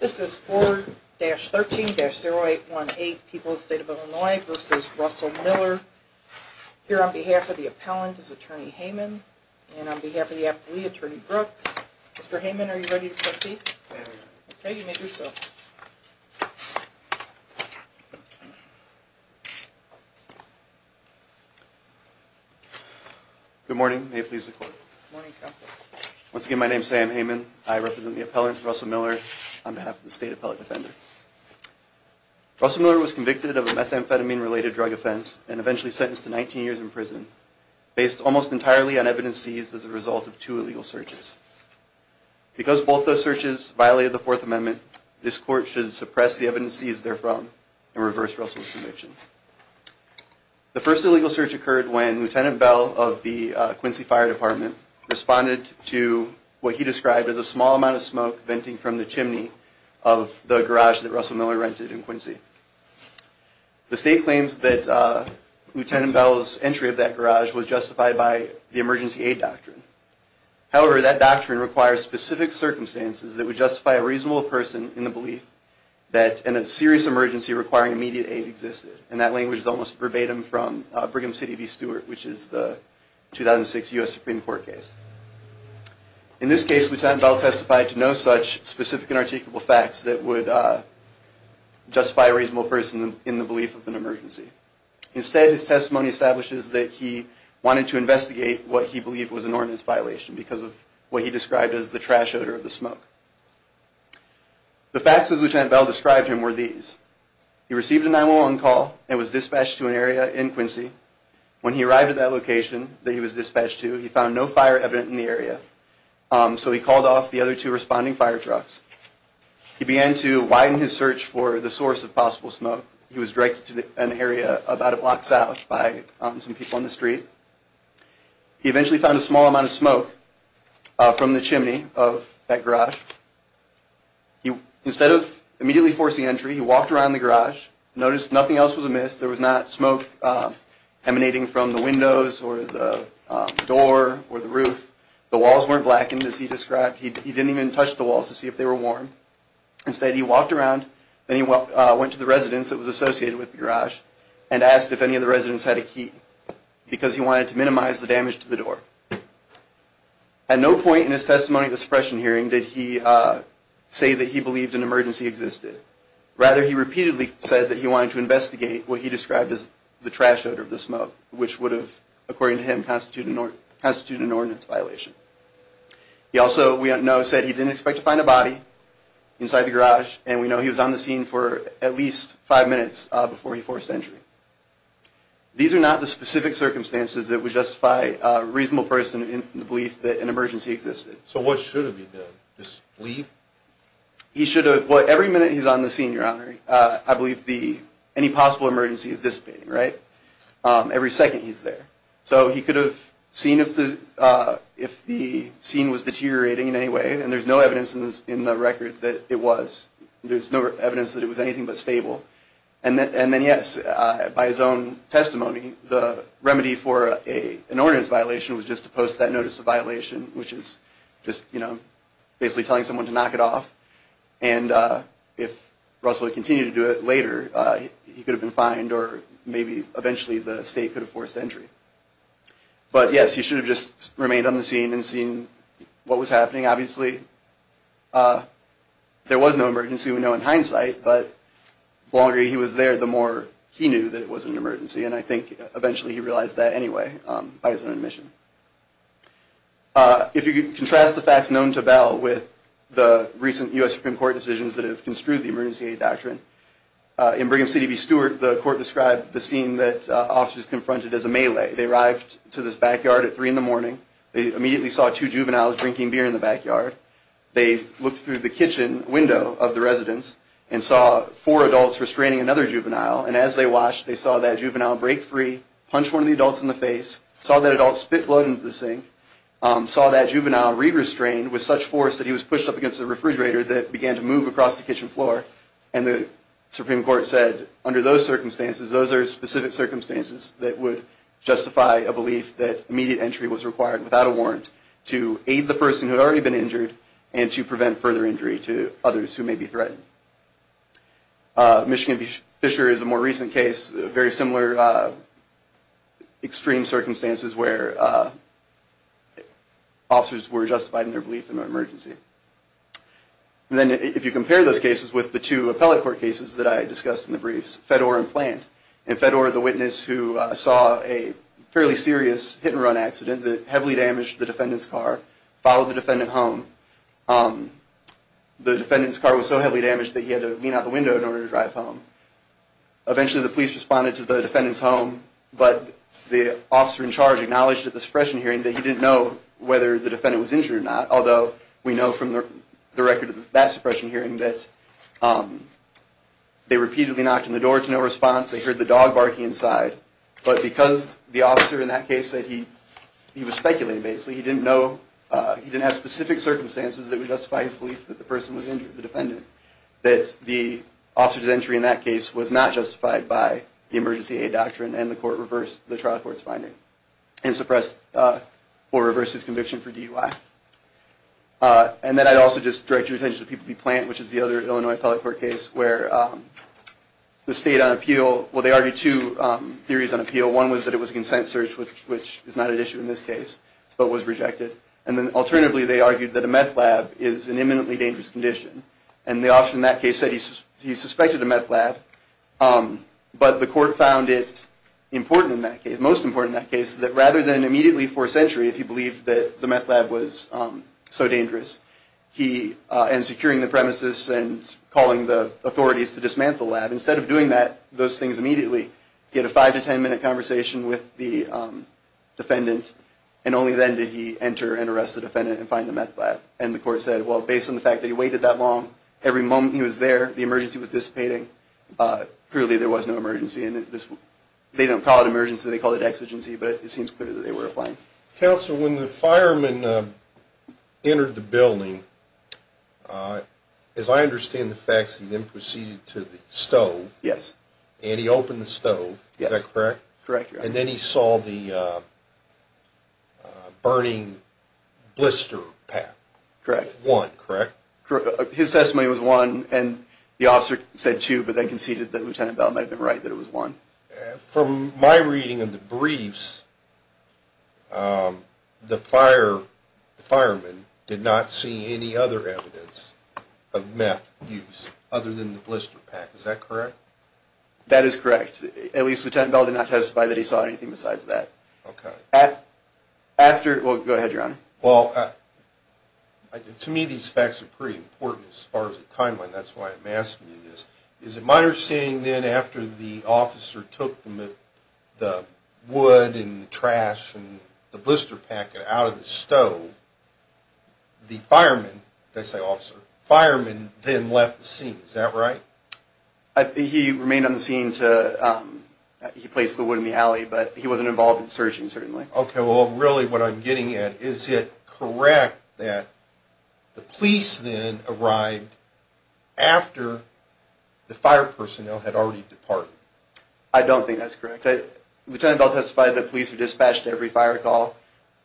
This is 4-13-0818, People's State of Illinois v. Russell Miller. Here on behalf of the appellant is Attorney Heyman, and on behalf of the appellee, Attorney Brooks. Mr. Heyman, are you ready to proceed? I am ready. Okay, you may do so. Good morning, may it please the Court. Good morning, Counsel. Once again, my name is Sam Heyman. I represent the appellant, Russell Miller, on behalf of the State Appellate Defender. Russell Miller was convicted of a methamphetamine-related drug offense and eventually sentenced to 19 years in prison, based almost entirely on evidence seized as a result of two illegal searches. Because both those searches violated the Fourth Amendment, this Court should suppress the evidence seized therefrom and reverse Russell's conviction. The first illegal search occurred when Lt. Bell of the Quincy Fire Department responded to what he described as a small amount of smoke venting from the chimney of the garage that Russell Miller rented in Quincy. The State claims that Lt. Bell's entry of that garage was justified by the emergency aid doctrine. However, that doctrine requires specific circumstances that would justify a reasonable person in the belief that a serious emergency requiring immediate aid existed. And that language is almost verbatim from Brigham City v. Stewart, which is the 2006 U.S. Supreme Court case. In this case, Lt. Bell testified to no such specific and articulable facts that would justify a reasonable person in the belief of an emergency. Instead, his testimony establishes that he wanted to investigate what he believed was an ordinance violation because of what he described as the trash odor of the smoke. The facts as which Lt. Bell described him were these. He received a 911 call and was dispatched to an area in Quincy. When he arrived at that location that he was dispatched to, he found no fire evident in the area. So he called off the other two responding fire trucks. He began to widen his search for the source of possible smoke. He was directed to an area about a block south by some people on the street. He eventually found a small amount of smoke from the chimney of that garage. Instead of immediately forcing entry, he walked around the garage. He noticed nothing else was amiss. There was not smoke emanating from the windows or the door or the roof. The walls weren't blackened as he described. He didn't even touch the walls to see if they were warm. Instead, he walked around and he went to the residence that was associated with the garage and asked if any of the residents had a key because he wanted to minimize the damage to the door. At no point in his testimony at the suppression hearing did he say that he believed an emergency existed. Rather, he repeatedly said that he wanted to investigate what he described as the trash odor of the smoke, which would have, according to him, constituted an ordinance violation. He also, we know, said he didn't expect to find a body inside the garage, and we know he was on the scene for at least five minutes before he forced entry. These are not the specific circumstances that would justify a reasonable person's belief that an emergency existed. So what should have he done? Just leave? He should have. Every minute he's on the scene, Your Honor, I believe any possible emergency is dissipating, right? Every second he's there. So he could have seen if the scene was deteriorating in any way, and there's no evidence in the record that it was. There's no evidence that it was anything but stable. And then, yes, by his own testimony, the remedy for an ordinance violation was just to post that notice of violation, which is just basically telling someone to knock it off. And if Russell had continued to do it later, he could have been fined, or maybe eventually the state could have forced entry. But, yes, he should have just remained on the scene and seen what was happening, obviously. There was no emergency, we know in hindsight, but the longer he was there, the more he knew that it was an emergency, and I think eventually he realized that anyway by his own admission. If you contrast the facts known to Bell with the recent U.S. Supreme Court decisions that have construed the emergency aid doctrine, in Brigham City v. Stewart, the court described the scene that officers confronted as a melee. They arrived to this backyard at 3 in the morning. They immediately saw two juveniles drinking beer in the backyard. They looked through the kitchen window of the residence and saw four adults restraining another juvenile, and as they watched, they saw that juvenile break free, punch one of the adults in the face, saw that adult spit blood into the sink, saw that juvenile re-restrained with such force that he was pushed up against a refrigerator that began to move across the kitchen floor, and the Supreme Court said, under those circumstances, those are specific circumstances that would justify a belief that immediate entry was required without a warrant to aid the person who had already been injured and to prevent further injury to others who may be threatened. Michigan v. Fisher is a more recent case, very similar extreme circumstances where officers were justified in their belief in an emergency. And then if you compare those cases with the two appellate court cases that I discussed in the briefs, Fedor and Plant. In Fedor, the witness who saw a fairly serious hit-and-run accident that heavily damaged the defendant's car followed the defendant home. The defendant's car was so heavily damaged that he had to lean out the window in order to drive home. Eventually, the police responded to the defendant's home, but the officer in charge acknowledged at the suppression hearing that he didn't know whether the defendant was injured or not, although we know from the record of that suppression hearing that they repeatedly knocked on the door to no response, they heard the dog barking inside, but because the officer in that case said he was speculating, basically he didn't know, he didn't have specific circumstances that would justify his belief that the person was injured, the defendant, that the officer's entry in that case was not justified by the emergency aid doctrine and the court reversed the trial court's finding and suppressed or reversed his conviction for DUI. And then I'd also just direct your attention to PPP Plant, which is the other Illinois appellate court case where the state on appeal, well they argued two theories on appeal, one was that it was a consent search, which is not an issue in this case, but was rejected, and then alternatively they argued that a meth lab is an imminently dangerous condition, and the officer in that case said he suspected a meth lab, but the court found it important in that case, most important in that case, that rather than immediately force entry if he believed that the meth lab was so dangerous, and securing the premises and calling the authorities to dismantle the lab, instead of doing that, he had a five to ten minute conversation with the defendant, and only then did he enter and arrest the defendant and find the meth lab, and the court said, well based on the fact that he waited that long, every moment he was there, the emergency was dissipating, clearly there was no emergency, they don't call it emergency, they call it exigency, but it seems clear that they were applying. Counsel, when the fireman entered the building, as I understand the facts, he then proceeded to the stove, and he opened the stove, is that correct, and then he saw the burning blister pack, one, correct? Correct, his testimony was one, and the officer said two, but then conceded that Lieutenant Bell might have been right, that it was one. From my reading of the briefs, the fireman did not see any other evidence of meth use, other than the blister pack, is that correct? That is correct, at least Lieutenant Bell did not testify that he saw anything besides that. Okay. After, well go ahead your honor. Well, to me these facts are pretty important as far as the timeline, that's why I'm asking you this, is it my understanding then after the officer took the wood and the trash and the blister pack out of the stove, the fireman, did I say officer, the fireman then left the scene, is that right? He remained on the scene to, he placed the wood in the alley, but he wasn't involved in searching certainly. Okay, well really what I'm getting at, is it correct that the police then arrived after the fire personnel had already departed? I don't think that's correct, Lieutenant Bell testified that police were dispatched to every fire call,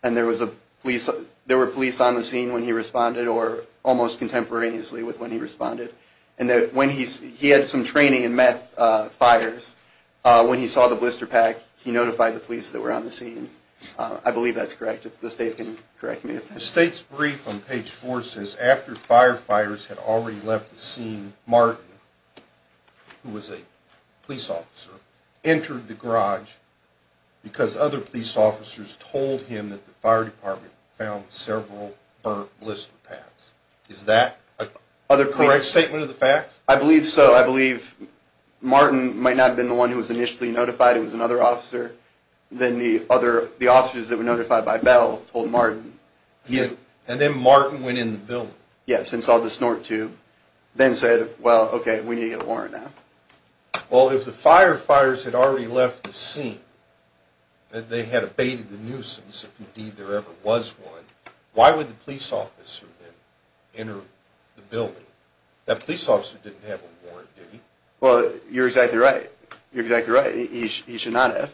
and there were police on the scene when he responded, or almost contemporaneously with when he responded, and that when he, he had some training in meth fires, when he saw the blister pack, he notified the police that were on the scene. I believe that's correct, if the state can correct me. The state's brief on page four says after firefighters had already left the scene, Martin, who was a police officer, entered the garage because other police officers told him that the fire department found several burnt blister packs. Is that a correct statement of the facts? I believe so, I believe Martin might not have been the one who was initially notified, it was another officer, then the other, the officers that were notified by Bell told Martin. And then Martin went in the building? Yes, and saw the snort tube, then said, well okay, we need a warrant now. Well if the firefighters had already left the scene, that they had abated the nuisance, if indeed there ever was one, why would the police officer then enter the building? That police officer didn't have a warrant, did he? Well, you're exactly right, you're exactly right, he should not have.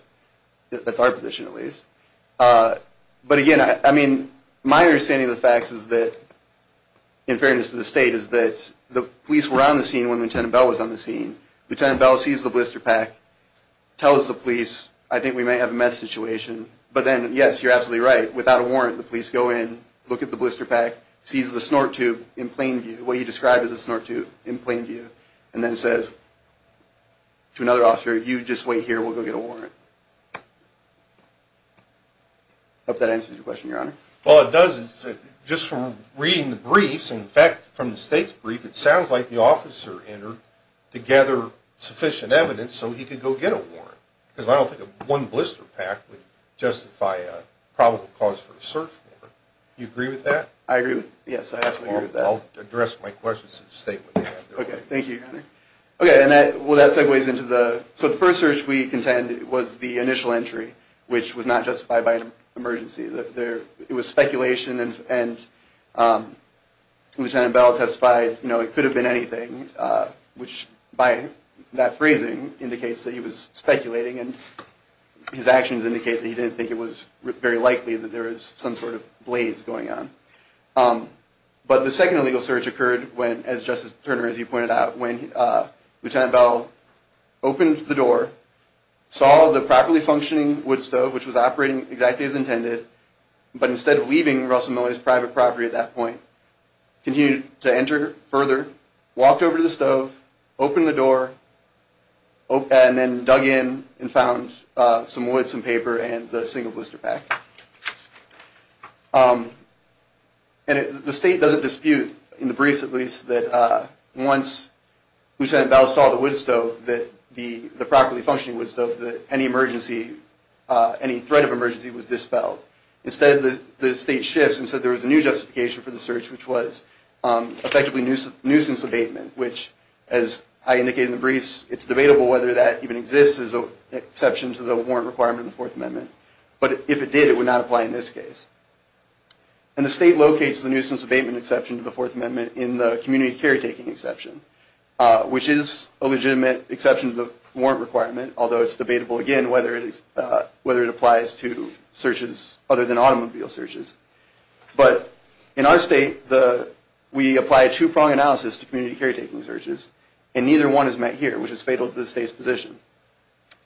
That's our position at least. But again, I mean, my understanding of the facts is that, in fairness to the state, is that the police were on the scene when Lieutenant Bell was on the scene. Lieutenant Bell sees the blister pack, tells the police, I think we may have a meth situation, but then, yes, you're absolutely right, without a warrant, the police go in, look at the blister pack, sees the snort tube in plain view, what he described as a snort tube in plain view, and then says to another officer, you just wait here, we'll go get a warrant. I hope that answers your question, Your Honor. Well it does, just from reading the briefs, in fact, from the state's brief, it sounds like the officer entered to gather sufficient evidence so he could go get a warrant. Because I don't think one blister pack would justify a probable cause for a search warrant. Do you agree with that? I agree with it, yes, I absolutely agree with that. Well, I'll address my questions to the state when they have their own. Okay, thank you, Your Honor. Okay, well that segues into the, so the first search we contended was the initial entry, which was not justified by an emergency. It was speculation, and Lieutenant Bell testified, you know, it could have been anything, which by that phrasing indicates that he was speculating, and his actions indicate that he didn't think it was very likely that there was some sort of blaze going on. But the second illegal search occurred when, as Justice Turner, as you pointed out, when Lieutenant Bell opened the door, saw the properly functioning wood stove, which was operating exactly as intended, but instead of leaving Russell Miller's private property at that point, continued to enter further, walked over to the stove, opened the door, and then dug in and found some wood, some paper, and the single blister pack. And the state doesn't dispute, in the briefs at least, that once Lieutenant Bell saw the wood stove, the properly functioning wood stove, that any emergency, any threat of emergency was dispelled. Instead, the state shifts and said there was a new justification for the search, which was effectively nuisance abatement, which, as I indicated in the briefs, it's debatable whether that even exists as an exception to the warrant requirement of the Fourth Amendment. But if it did, it would not apply in this case. And the state locates the nuisance abatement exception to the Fourth Amendment in the community caretaking exception, which is a legitimate exception to the warrant requirement, although it's debatable, again, whether it applies to searches other than automobile searches. But in our state, we apply a two-prong analysis to community caretaking searches, and neither one is met here, which is fatal to the state's position.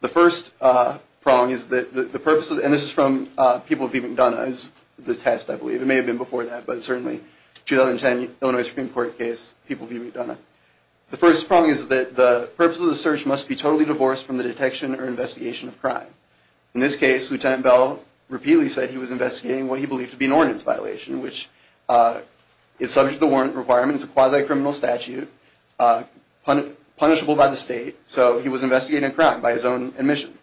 The first prong is that the purpose of the search must be totally divorced from the detection or investigation of crime. In this case, Lieutenant Bell repeatedly said he was investigating what he believed to be an ordinance violation, which is subject to the warrant requirement. It's a quasi-criminal statute, punishable by the state. So he was investigating a crime by his own admission.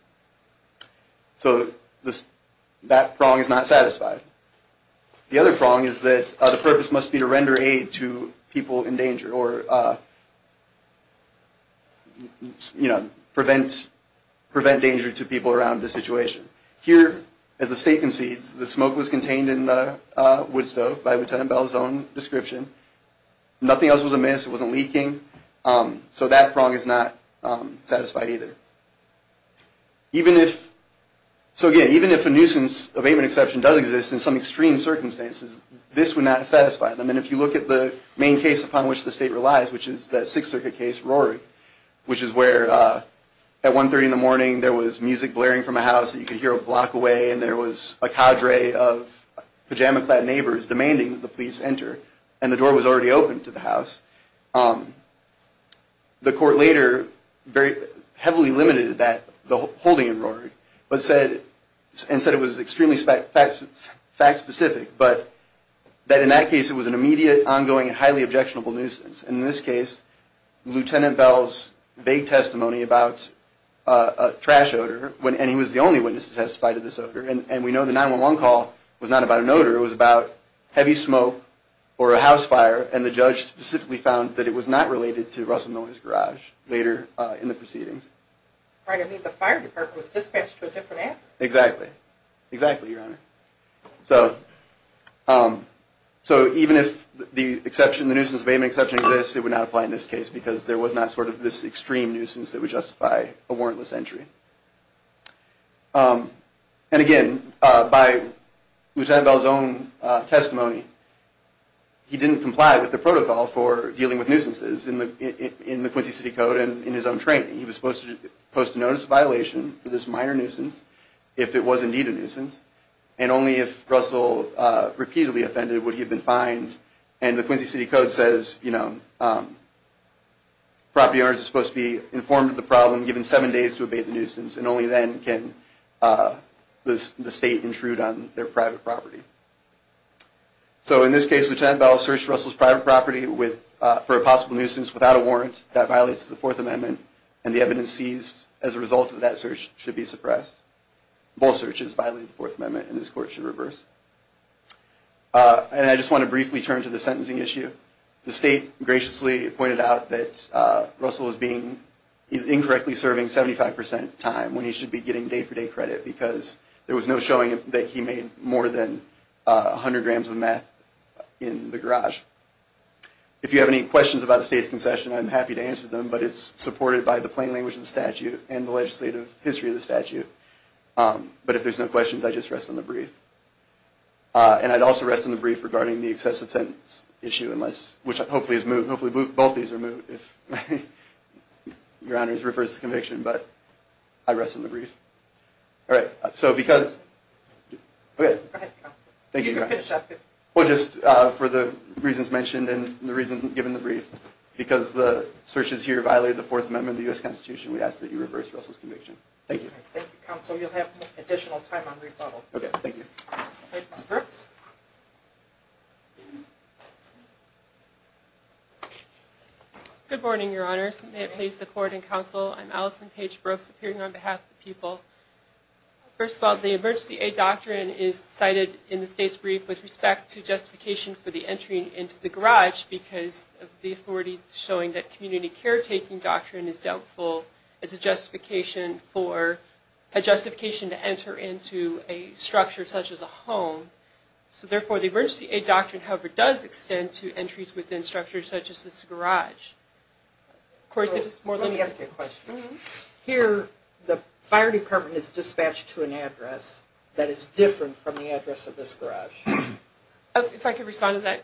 So that prong is not satisfied. The other prong is that the purpose must be to render aid to people in danger or prevent danger to people around the situation. Here, as the state concedes, the smoke was contained in the wood stove by Lieutenant Bell's own description. Nothing else was amiss. It wasn't leaking. So that prong is not satisfied either. So again, even if a nuisance abatement exception does exist in some extreme circumstances, this would not satisfy them. And if you look at the main case upon which the state relies, which is that Sixth Circuit case, Rory, which is where at 1.30 in the morning there was music blaring from a house that you could hear a block away, and there was a cadre of pajama-clad neighbors demanding that the police enter, and the door was already open to the house. The court later heavily limited that, the holding in Rory, and said it was extremely fact-specific, but that in that case it was an immediate, ongoing, and highly objectionable nuisance. In this case, Lieutenant Bell's vague testimony about a trash odor, and he was the only witness to testify to this odor, and we know the 911 call was not about an odor. It was about heavy smoke or a house fire, and the judge specifically found that it was not related to Russell Miller's garage later in the proceedings. Right, I mean the fire department was dispatched to a different address. Exactly. Exactly, Your Honor. So even if the exception, the nuisance abatement exception exists, it would not apply in this case because there was not sort of this extreme nuisance that would justify a warrantless entry. And again, by Lieutenant Bell's own testimony, he didn't comply with the protocol for dealing with nuisances in the Quincy City Code and in his own training. He was supposed to post a notice of violation for this minor nuisance if it was indeed a nuisance, and only if Russell repeatedly offended would he have been fined. And the Quincy City Code says, you know, property owners are supposed to be informed of the problem, given seven days to abate the nuisance, and only then can the state intrude on their private property. So in this case, Lieutenant Bell searched Russell's private property for a possible nuisance without a warrant. That violates the Fourth Amendment, and the evidence seized as a result of that search should be suppressed. Both searches violate the Fourth Amendment, and this Court should reverse. And I just want to briefly turn to the sentencing issue. The state graciously pointed out that Russell is incorrectly serving 75% time when he should be getting day-for-day credit, because there was no showing that he made more than 100 grams of meth in the garage. If you have any questions about the state's concession, I'm happy to answer them, but it's supported by the plain language of the statute and the legislative history of the statute. But if there's no questions, I just rest on the brief. And I'd also rest on the brief regarding the excessive sentence issue, which hopefully is moved. Hopefully both of these are moved if Your Honor's reversed the conviction, but I rest on the brief. All right, so because – Go ahead, Counselor. Thank you, Your Honor. You can finish up. Well, just for the reasons mentioned and the reason given the brief, because the searches here violate the Fourth Amendment of the U.S. Constitution, we ask that you reverse Russell's conviction. Thank you. Thank you, Counselor. You'll have additional time on rebuttal. Okay, thank you. All right, Ms. Brooks. Good morning, Your Honor. May it please the Court and Counsel, I'm Allison Paige Brooks, appearing on behalf of the people. First of all, the Emergency Aid Doctrine is cited in the state's brief with respect to justification for the entry into the garage because of the authority showing that community caretaking doctrine is doubtful, is a justification for – a justification to enter into a structure such as a home. So, therefore, the Emergency Aid Doctrine, however, does extend to entries within structures such as this garage. Let me ask you a question. Here, the fire department is dispatched to an address that is different from the address of this garage. If I could respond to that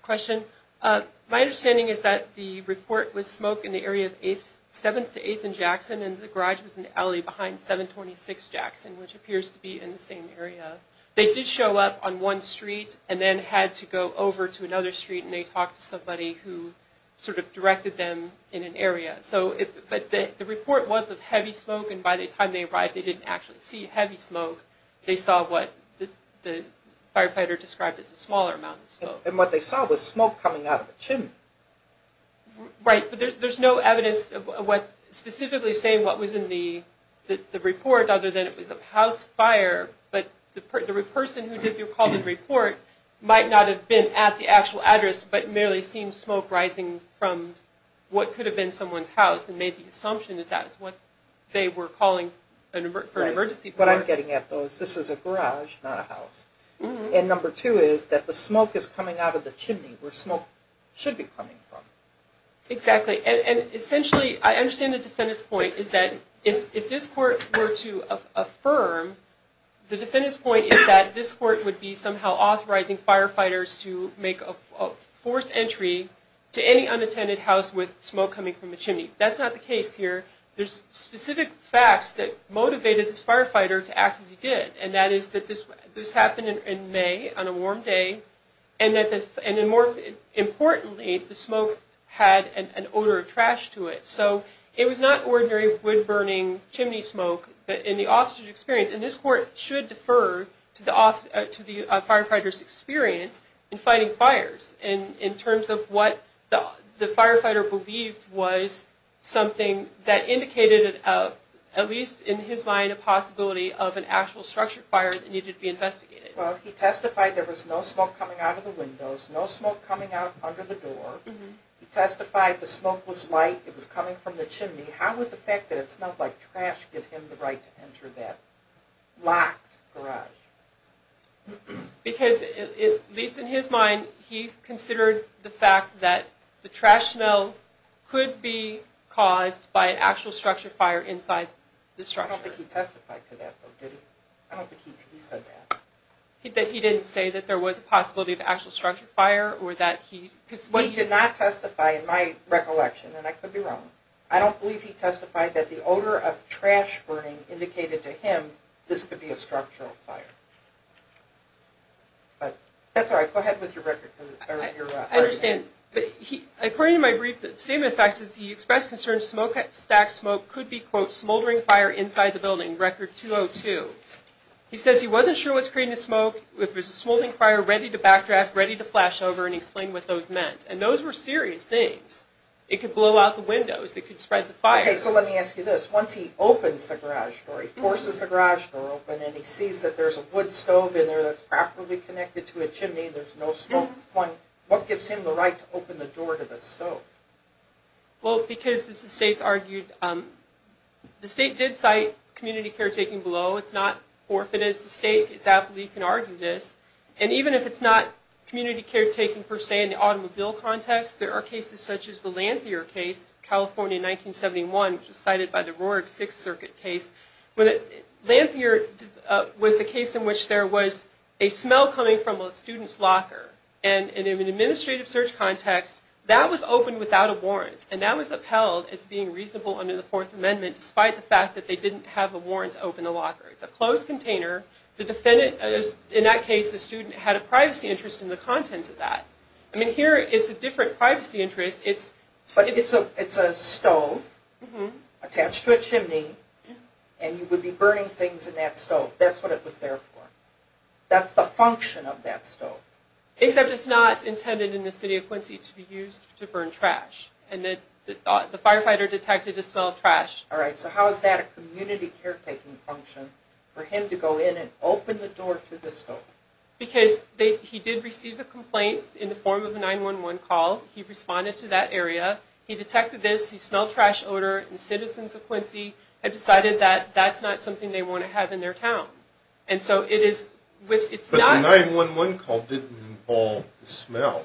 question. My understanding is that the report was smoke in the area of 7th to 8th and Jackson, and the garage was in the alley behind 726 Jackson, which appears to be in the same area. They did show up on one street and then had to go over to another street, and they talked to somebody who sort of directed them in an area. But the report was of heavy smoke, and by the time they arrived, they didn't actually see heavy smoke. They saw what the firefighter described as a smaller amount of smoke. And what they saw was smoke coming out of a chimney. Right, but there's no evidence specifically saying what was in the report other than it was a house fire, but the person who called the report might not have been at the actual address but merely seen smoke rising from what could have been someone's house and made the assumption that that is what they were calling for an emergency fire. Right. What I'm getting at, though, is this is a garage, not a house. And number two is that the smoke is coming out of the chimney where smoke should be coming from. Exactly. And essentially, I understand the defendant's point is that if this court were to affirm, the defendant's point is that this court would be somehow authorizing firefighters to make a forced entry to any unattended house with smoke coming from a chimney. That's not the case here. There's specific facts that motivated this firefighter to act as he did, and that is that this happened in May on a warm day, and more importantly, the smoke had an odor of trash to it. So it was not ordinary wood-burning chimney smoke, but in the officer's experience, and this court should defer to the firefighter's experience in fighting fires in terms of what the firefighter believed was something that indicated, at least in his mind, a possibility of an actual structured fire that needed to be investigated. Well, he testified there was no smoke coming out of the windows, no smoke coming out under the door. He testified the smoke was light, it was coming from the chimney. How would the fact that it smelled like trash give him the right to enter that locked garage? Because, at least in his mind, he considered the fact that the trash smell could be caused by an actual structured fire inside the structure. I don't think he testified to that, though, did he? I don't think he said that. He didn't say that there was a possibility of actual structured fire or that he... He did not testify in my recollection, and I could be wrong. I don't believe he testified that the odor of trash burning indicated to him this could be a structural fire. That's all right. Go ahead with your record. I understand. According to my brief, the statement of facts is he expressed concern smoke, stacked smoke could be, quote, smoldering fire inside the building, record 202. He says he wasn't sure what's creating the smoke. It was a smoldering fire ready to backdraft, ready to flash over, and he explained what those meant. And those were serious things. It could blow out the windows. It could spread the fire. Okay, so let me ask you this. Once he opens the garage door, he forces the garage door open, and he sees that there's a wood stove in there that's properly connected to a chimney. There's no smoke flying. What gives him the right to open the door to the stove? Well, because, as the state's argued, the state did cite community caretaking below. It's not forfeited. As the state exactly can argue this. And even if it's not community caretaking, per se, in the automobile context, there are cases such as the Lanthier case, California 1971, which was cited by the Roarick Sixth Circuit case. Lanthier was the case in which there was a smell coming from a student's locker. And in an administrative search context, that was opened without a warrant. And that was upheld as being reasonable under the Fourth Amendment, despite the fact that they didn't have a warrant to open the locker. It's a closed container. In that case, the student had a privacy interest in the contents of that. I mean, here, it's a different privacy interest. So it's a stove attached to a chimney, and you would be burning things in that stove. That's what it was there for. That's the function of that stove. Except it's not intended in the city of Quincy to be used to burn trash. And the firefighter detected the smell of trash. Alright, so how is that a community caretaking function, for him to go in and open the door to the stove? Because he did receive a complaint in the form of a 911 call. He responded to that area. He detected this. He smelled trash odor. And citizens of Quincy have decided that that's not something they want to have in their town. And so it is... But the 911 call didn't involve the smell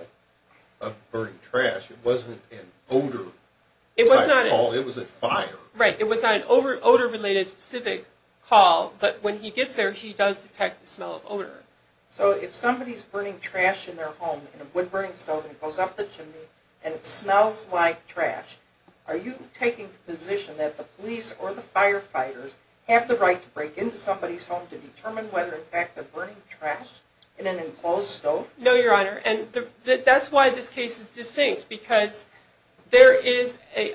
of burning trash. It wasn't an odor-type call. It was a fire. Right. It was not an odor-related specific call. So if somebody's burning trash in their home, in a wood-burning stove, and it goes up the chimney, and it smells like trash, are you taking the position that the police or the firefighters have the right to break into somebody's home to determine whether, in fact, they're burning trash in an enclosed stove? No, Your Honor. And that's why this case is distinct. Because there is a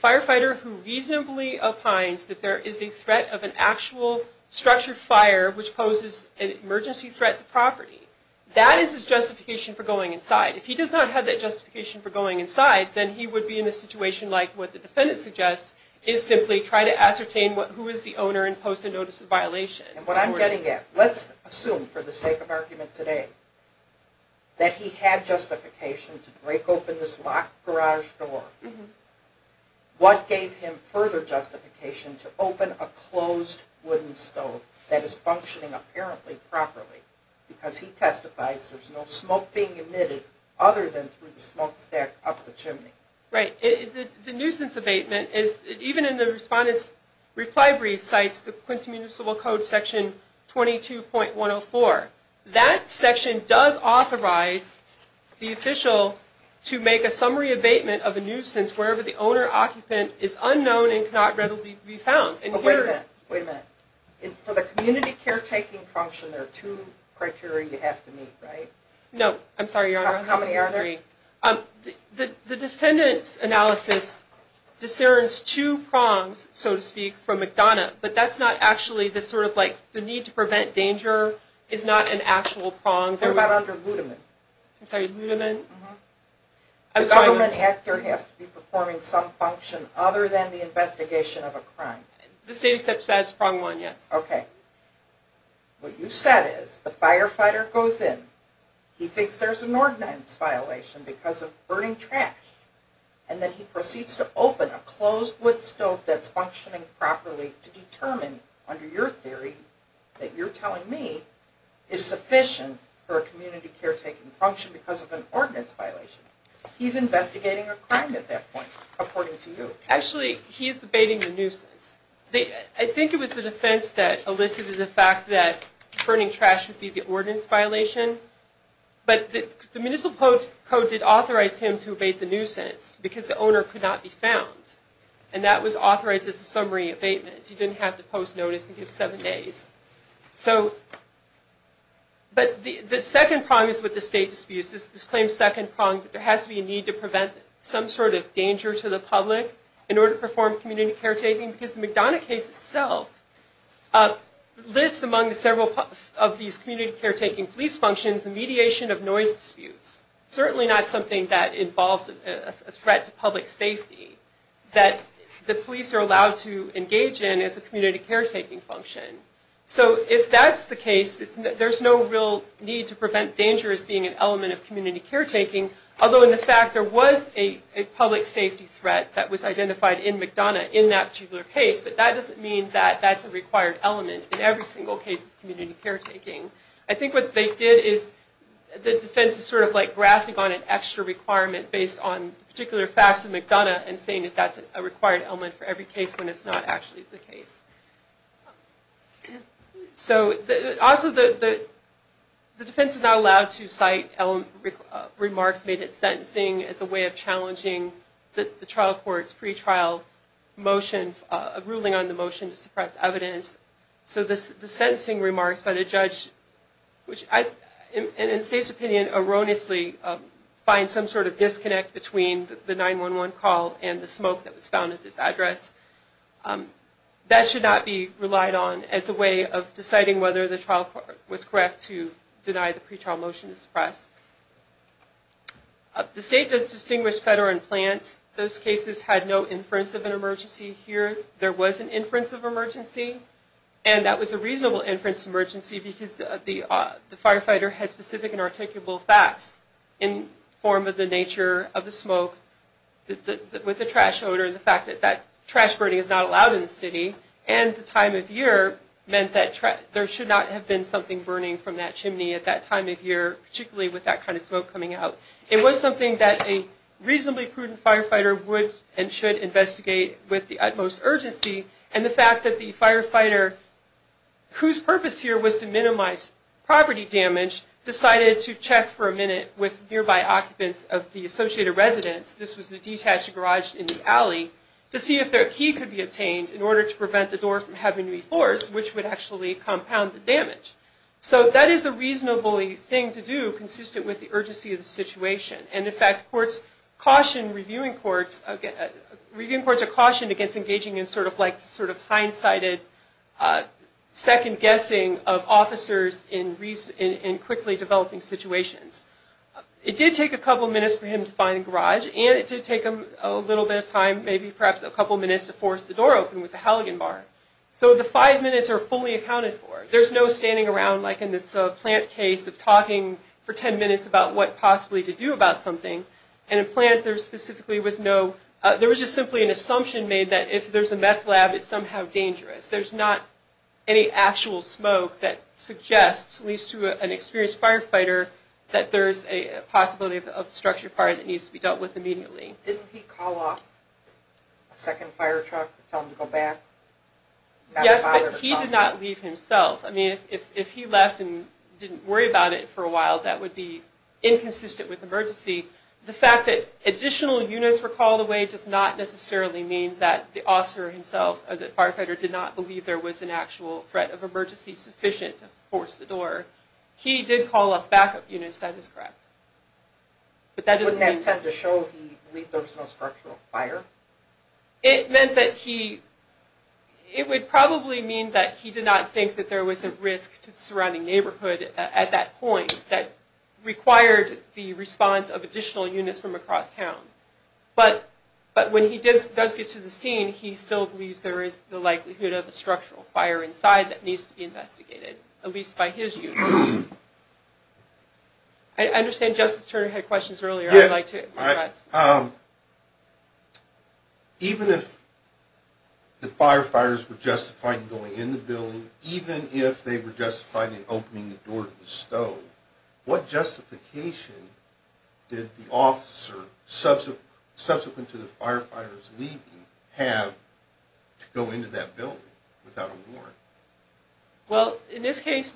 firefighter who reasonably opines that there is a threat of an actual structured fire which poses an emergency threat to property. That is his justification for going inside. If he does not have that justification for going inside, then he would be in a situation like what the defendant suggests, is simply try to ascertain who is the owner and post a notice of violation. And what I'm getting at, let's assume, for the sake of argument today, that he had justification to break open this locked garage door. What gave him further justification to open a closed wooden stove that is functioning apparently properly? Because he testifies there's no smoke being emitted other than through the smoke stack up the chimney. Right. The nuisance abatement, even in the Respondent's reply brief, cites the Quincy Municipal Code section 22.104. That section does authorize the official to make a summary abatement of a nuisance wherever the owner-occupant is unknown and cannot readily be found. Wait a minute. Wait a minute. For the community caretaking function, there are two criteria you have to meet, right? No. I'm sorry, Your Honor. How many are there? The defendant's analysis discerns two prongs, so to speak, from McDonough. But that's not actually the sort of, like, the need to prevent danger is not an actual prong. What about under Ludeman? I'm sorry, Ludeman? The government actor has to be performing some function other than the investigation of a crime. The state accepts that as prong one, yes. Okay. What you said is the firefighter goes in. He thinks there's an ordinance violation because of burning trash. And then he proceeds to open a closed wood stove that's functioning properly to determine, under your theory that you're telling me, is sufficient for a community caretaking function because of an ordinance violation. He's investigating a crime at that point, according to you. Actually, he's abating the nuisance. I think it was the defense that elicited the fact that burning trash would be the ordinance violation. But the municipal code did authorize him to abate the nuisance because the owner could not be found. And that was authorized as a summary abatement. He didn't have to post notice and give seven days. But the second prong is with the state disputes. This claims second prong that there has to be a need to prevent some sort of danger to the public in order to perform community caretaking. Because the McDonough case itself lists among several of these community caretaking police functions the mediation of noise disputes. Certainly not something that involves a threat to public safety that the police are allowed to engage in as a community caretaking function. So if that's the case, there's no real need to prevent danger as being an element of community caretaking. Although, in fact, there was a public safety threat that was identified in McDonough in that particular case. But that doesn't mean that that's a required element in every single case of community caretaking. I think what they did is the defense is sort of like grafting on an extra requirement based on particular facts of McDonough and saying that that's a required element for every case when it's not actually the case. Also, the defense is not allowed to cite remarks made at sentencing as a way of challenging the trial court's pre-trial ruling on the motion to suppress evidence. So the sentencing remarks by the judge, which in the state's opinion erroneously finds some sort of disconnect between the 911 call and the smoke that was found at this address, that should not be relied on as a way of deciding whether the trial court was correct to deny the pre-trial motion to suppress. The state does distinguish federal implants. Those cases had no inference of an emergency here. There was an inference of emergency, and that was a reasonable inference of emergency because the firefighter had specific and articulable facts in the form of the nature of the smoke, with the trash odor and the fact that that trash burning is not allowed in the city, and the time of year meant that there should not have been something burning from that chimney at that time of year, particularly with that kind of smoke coming out. It was something that a reasonably prudent firefighter would and should investigate with the utmost urgency, and the fact that the firefighter, whose purpose here was to minimize property damage, decided to check for a minute with nearby occupants of the associated residence, this was the detached garage in the alley, to see if their key could be obtained in order to prevent the door from having to be forced, which would actually compound the damage. So that is a reasonable thing to do, consistent with the urgency of the situation, and in fact, courts cautioned, reviewing courts, reviewing courts are cautioned against engaging in sort of like, sort of hindsighted, second guessing of officers in quickly developing situations. It did take a couple minutes for him to find the garage, and it did take him a little bit of time, maybe perhaps a couple minutes, to force the door open with the halogen bar. So the five minutes are fully accounted for. There's no standing around like in this plant case of talking for ten minutes about what possibly to do about something, and in plants there specifically was no, there was just simply an assumption made that if there's a meth lab, it's somehow dangerous. There's not any actual smoke that suggests, at least to an experienced firefighter, that there's a possibility of a structure fire that needs to be dealt with immediately. Didn't he call off a second fire truck to tell him to go back? Yes, but he did not leave himself. I mean, if he left and didn't worry about it for a while, that would be inconsistent with emergency. The fact that additional units were called away does not necessarily mean that the officer himself, or the firefighter, did not believe there was an actual threat of emergency sufficient to force the door. He did call off backup units, that is correct. But that doesn't mean... Wouldn't that tend to show he believed there was no structural fire? It meant that he, it would probably mean that he did not think that there was a risk to the surrounding neighborhood at that point that required the response of additional units from across town. But when he does get to the scene, he still believes there is the likelihood of a structural fire inside that needs to be investigated, at least by his unit. I understand Justice Turner had questions earlier I'd like to address. Even if the firefighters were justified in going in the building, even if they were justified in opening the door to the stove, what justification did the officer, subsequent to the firefighters leaving, have to go into that building without a warrant? Well, in this case,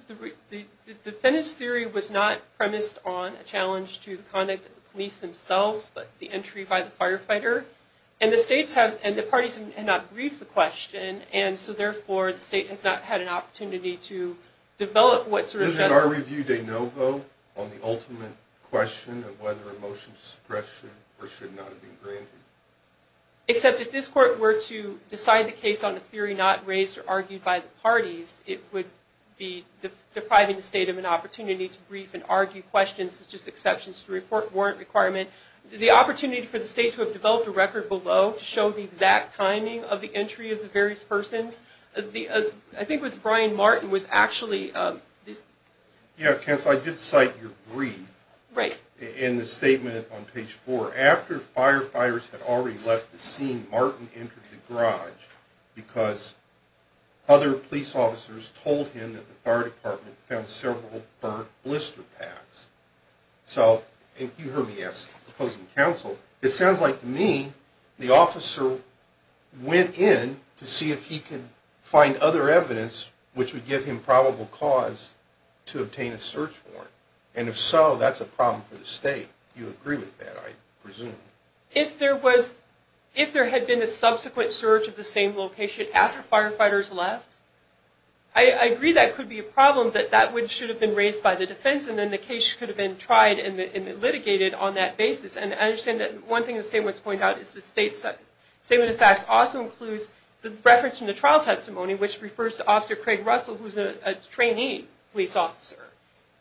the defendant's theory was not premised on a challenge to the conduct of the police themselves, but the entry by the firefighter. And the states have, and the parties have not briefed the question, and so therefore the state has not had an opportunity to develop what sort of... Isn't our review de novo on the ultimate question of whether a motion to suppress should or should not be granted? Except if this court were to decide the case on a theory not raised or argued by the parties, it would be depriving the state of an opportunity to brief and argue questions, such as exceptions to the report warrant requirement. The opportunity for the state to have developed a record below to show the exact timing of the entry of the various persons. I think it was Brian Martin was actually... Yeah, counsel, I did cite your brief in the statement on page four. After firefighters had already left the scene, Martin entered the garage because other police officers told him that the fire department found several burnt blister packs. So, and you heard me ask the opposing counsel, it sounds like to me the officer went in to see if he could find other evidence which would give him probable cause to obtain a search warrant. And if so, that's a problem for the state. Do you agree with that, I presume? If there was... If there had been a subsequent search of the same location after firefighters left, I agree that could be a problem, that that should have been raised by the defense, and then the case could have been tried and litigated on that basis. And I understand that one thing the statement has pointed out is the state's statement of facts also includes the reference in the trial testimony which refers to Officer Craig Russell, who's a trainee police officer.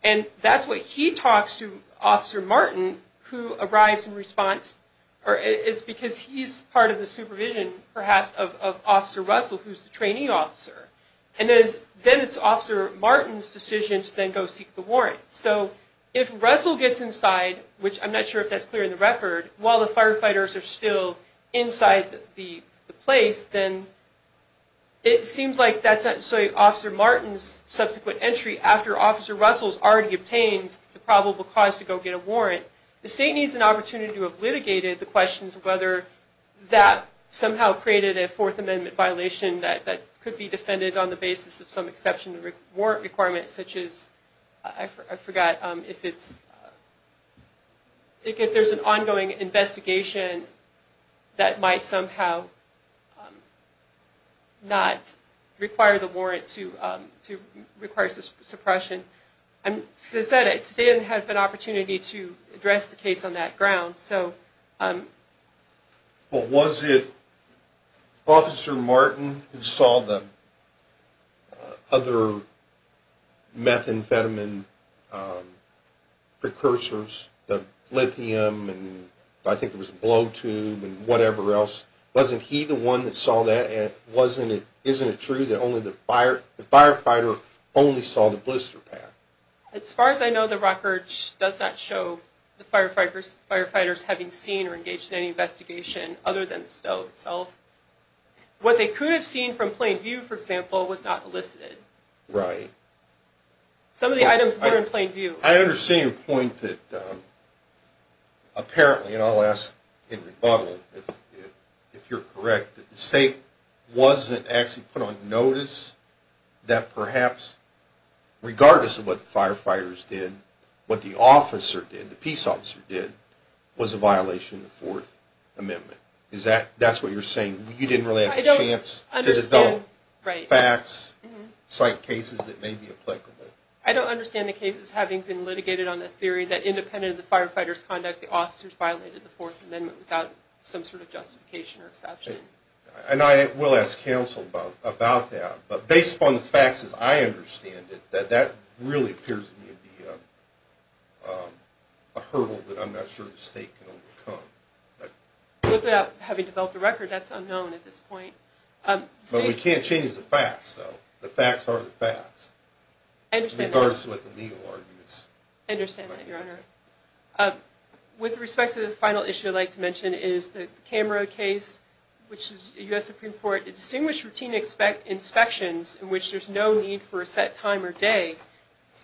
And that's why he talks to Officer Martin, who arrives in response, or it's because he's part of the supervision, perhaps, of Officer Russell, who's the trainee officer. And then it's Officer Martin's decision to then go seek the warrant. So if Russell gets inside, which I'm not sure if that's clear in the record, while the firefighters are still inside the place, then it seems like that's Officer Martin's subsequent entry after Officer Russell's already obtained the probable cause to go get a warrant. The state needs an opportunity to have litigated the questions of whether that somehow created a Fourth Amendment violation that could be defended on the basis of some exception to warrant requirements, such as, I forgot, if there's an ongoing investigation that might somehow not require the warrant to require suppression. As I said, it still has an opportunity to address the case on that ground. Well, was it Officer Martin who saw the other methamphetamine precursors, the lithium, and I think it was the blow tube and whatever else, wasn't he the one that saw that, and isn't it true that the firefighter only saw the blister pad? As far as I know, the record does not show the firefighters having seen or engaged in any investigation other than the stove itself. What they could have seen from plain view, for example, was not elicited. Right. Some of the items were in plain view. I understand your point that apparently, and I'll ask in rebuttal if you're correct, that the state wasn't actually put on notice that perhaps, regardless of what the firefighters did, what the officer did, the peace officer did, was a violation of the Fourth Amendment. That's what you're saying. You didn't really have a chance to develop facts, cite cases that may be applicable. I don't understand the cases having been litigated on the theory that independent of the firefighters' conduct, that the officers violated the Fourth Amendment without some sort of justification or exception. I will ask counsel about that, but based upon the facts as I understand it, that really appears to me to be a hurdle that I'm not sure the state can overcome. Having developed a record, that's unknown at this point. But we can't change the facts, though. The facts are the facts. I understand that. Regardless of what the legal argument is. I understand that, Your Honor. With respect to the final issue I'd like to mention is the Camra case, which is a U.S. Supreme Court, a distinguished routine inspections in which there's no need for a set time or day,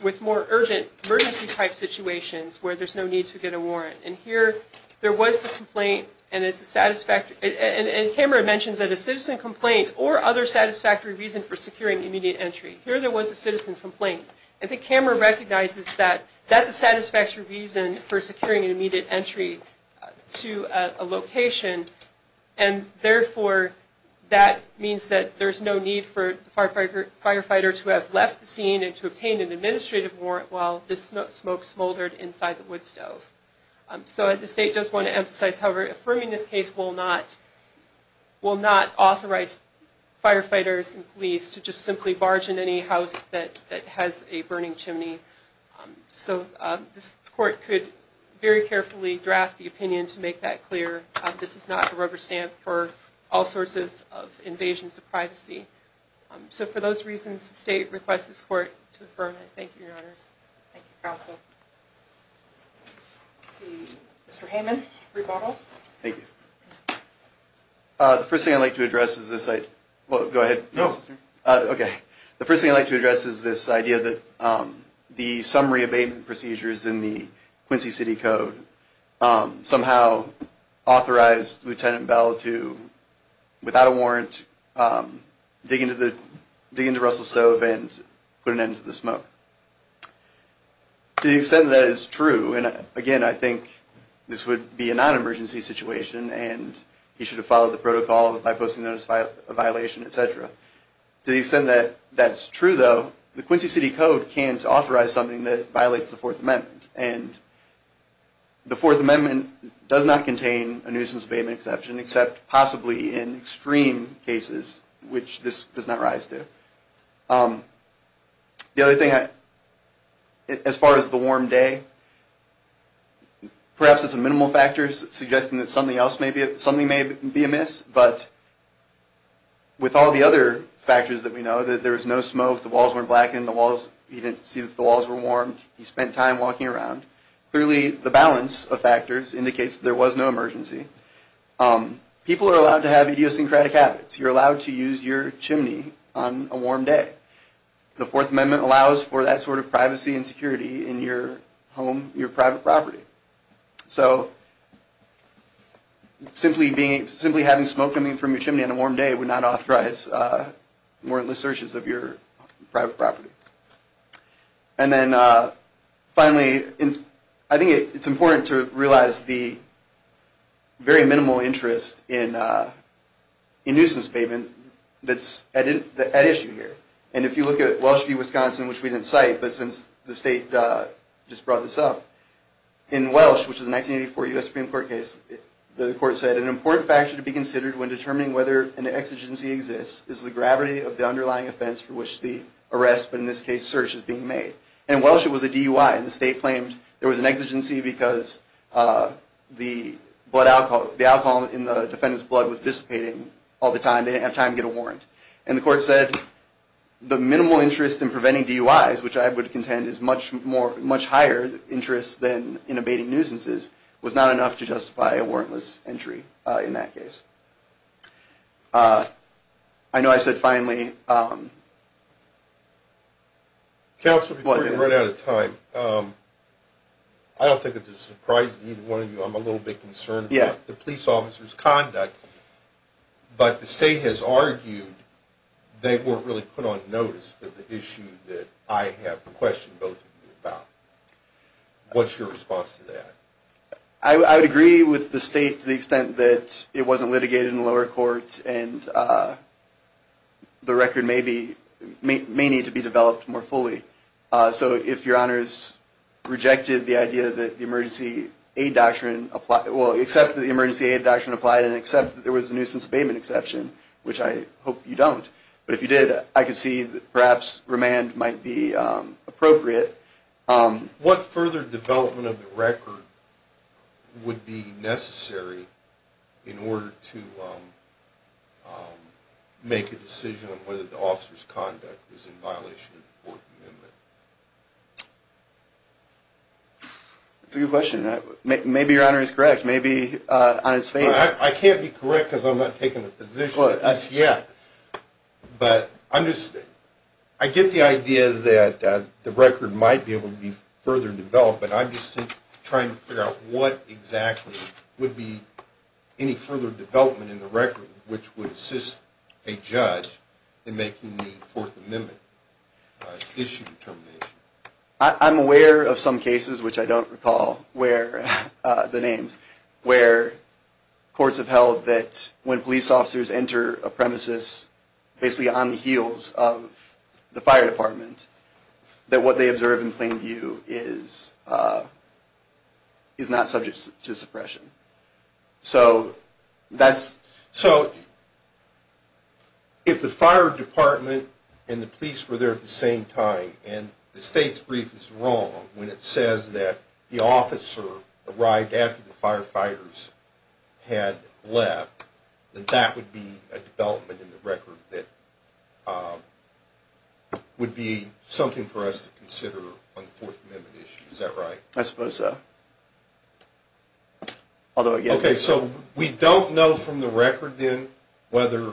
with more urgent emergency-type situations where there's no need to get a warrant. And here there was a complaint, and Camra mentions that a citizen complaint or other satisfactory reason for securing immediate entry. Here there was a citizen complaint. And I think Camra recognizes that that's a satisfactory reason for securing an immediate entry to a location, and therefore that means that there's no need for the firefighter to have left the scene and to obtain an administrative warrant while the smoke smoldered inside the wood stove. So the state does want to emphasize, however, affirming this case will not authorize firefighters and police to just simply barge in any house that has a burning chimney. So this court could very carefully draft the opinion to make that clear. This is not a rubber stamp for all sorts of invasions of privacy. So for those reasons, the state requests this court to affirm it. Thank you, Your Honors. Thank you, Counsel. Let's see. Mr. Heyman, rebuttal. Thank you. The first thing I'd like to address is this. Well, go ahead. No. Okay. The first thing I'd like to address is this idea that the summary abatement procedures in the Quincy City Code somehow authorized Lieutenant Bell to, without a warrant, dig into Russell's stove and put an end to the smoke. To the extent that is true, and again, I think this would be a non-emergency situation and he should have followed the protocol by posting a notice of violation, et cetera. To the extent that that's true, though, the Quincy City Code can't authorize something that violates the Fourth Amendment. And the Fourth Amendment does not contain a nuisance abatement exception, except possibly in extreme cases, which this does not rise to. The other thing, as far as the warm day, perhaps it's a minimal factor, suggesting that something may be amiss, but with all the other factors that we know, that there was no smoke, the walls weren't blackened, he didn't see that the walls were warm, he spent time walking around, clearly the balance of factors indicates that there was no emergency. People are allowed to have idiosyncratic habits. You're allowed to use your chimney on a warm day. The Fourth Amendment allows for that sort of privacy and security in your home, your private property. So simply having smoke coming from your chimney on a warm day would not authorize warrantless searches of your private property. And then finally, I think it's important to realize the very minimal interest in nuisance abatement that's at issue here. And if you look at Welsh v. Wisconsin, which we didn't cite, but since the state just brought this up, in Welsh, which is a 1984 U.S. Supreme Court case, the court said, an important factor to be considered when determining whether an exigency exists is the gravity of the underlying offense for which the arrest, but in this case search, is being made. In Welsh, it was a DUI, and the state claimed there was an exigency because the alcohol in the defendant's blood was dissipating all the time, they didn't have time to get a warrant. And the court said the minimal interest in preventing DUIs, which I would contend is much higher interest than in abating nuisances, was not enough to justify a warrantless entry in that case. Counsel, before we run out of time, I don't think it's a surprise to either one of you, I'm a little bit concerned about the police officer's conduct. But the state has argued they weren't really put on notice for the issue that I have a question both of you about. What's your response to that? I would agree with the state to the extent that it wasn't litigated in the lower courts, and the record may need to be developed more fully. So if your honors rejected the idea that the emergency aid doctrine applied, well, except that the emergency aid doctrine applied and except that there was a nuisance abatement exception, which I hope you don't, but if you did, I could see that perhaps remand might be appropriate. What further development of the record would be necessary in order to make a decision on whether the officer's conduct is in violation of the Fourth Amendment? That's a good question. Maybe your honor is correct. I can't be correct because I'm not taking a position on this yet. But I get the idea that the record might be able to be further developed, but I'm just trying to figure out what exactly would be any further development in the record which would assist a judge in making the Fourth Amendment issue determination. I'm aware of some cases, which I don't recall the names, where courts have held that when police officers enter a premises basically on the heels of the fire department, that what they observe in plain view is not subject to suppression. So if the fire department and the police were there at the same time and the state's brief is wrong when it says that the officer arrived after the firefighters had left, then that would be a development in the record that would be something for us to consider on the Fourth Amendment issue. Is that right? I suppose so. Okay, so we don't know from the record then whether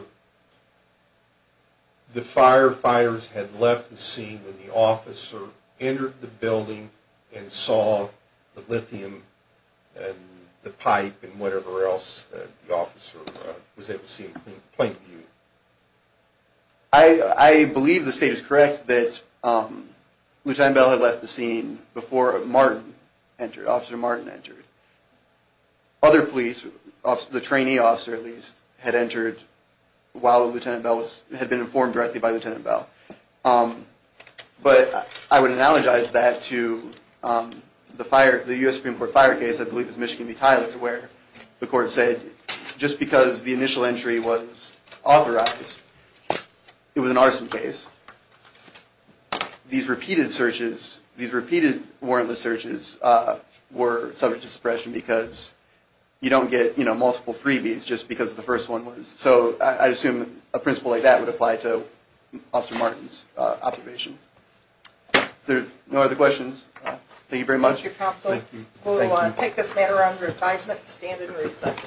the firefighters had left the scene when the officer entered the building and saw the lithium and the pipe and whatever else the officer was able to see in plain view. I believe the state is correct that Lieutenant Bell had left the scene before Officer Martin entered. Other police, the trainee officer at least, had entered while Lieutenant Bell had been informed directly by Lieutenant Bell. But I would analogize that to the U.S. Supreme Court fire case, I believe it was Michigan v. Tyler, where the court said just because the initial entry was authorized, it was an arson case. These repeated warrantless searches were subject to suppression because you don't get multiple freebies just because the first one was. So I assume a principle like that would apply to Officer Martin's observations. Are there no other questions? Thank you very much. Thank you, Counselor. We'll take this matter under advisement and stand in recess.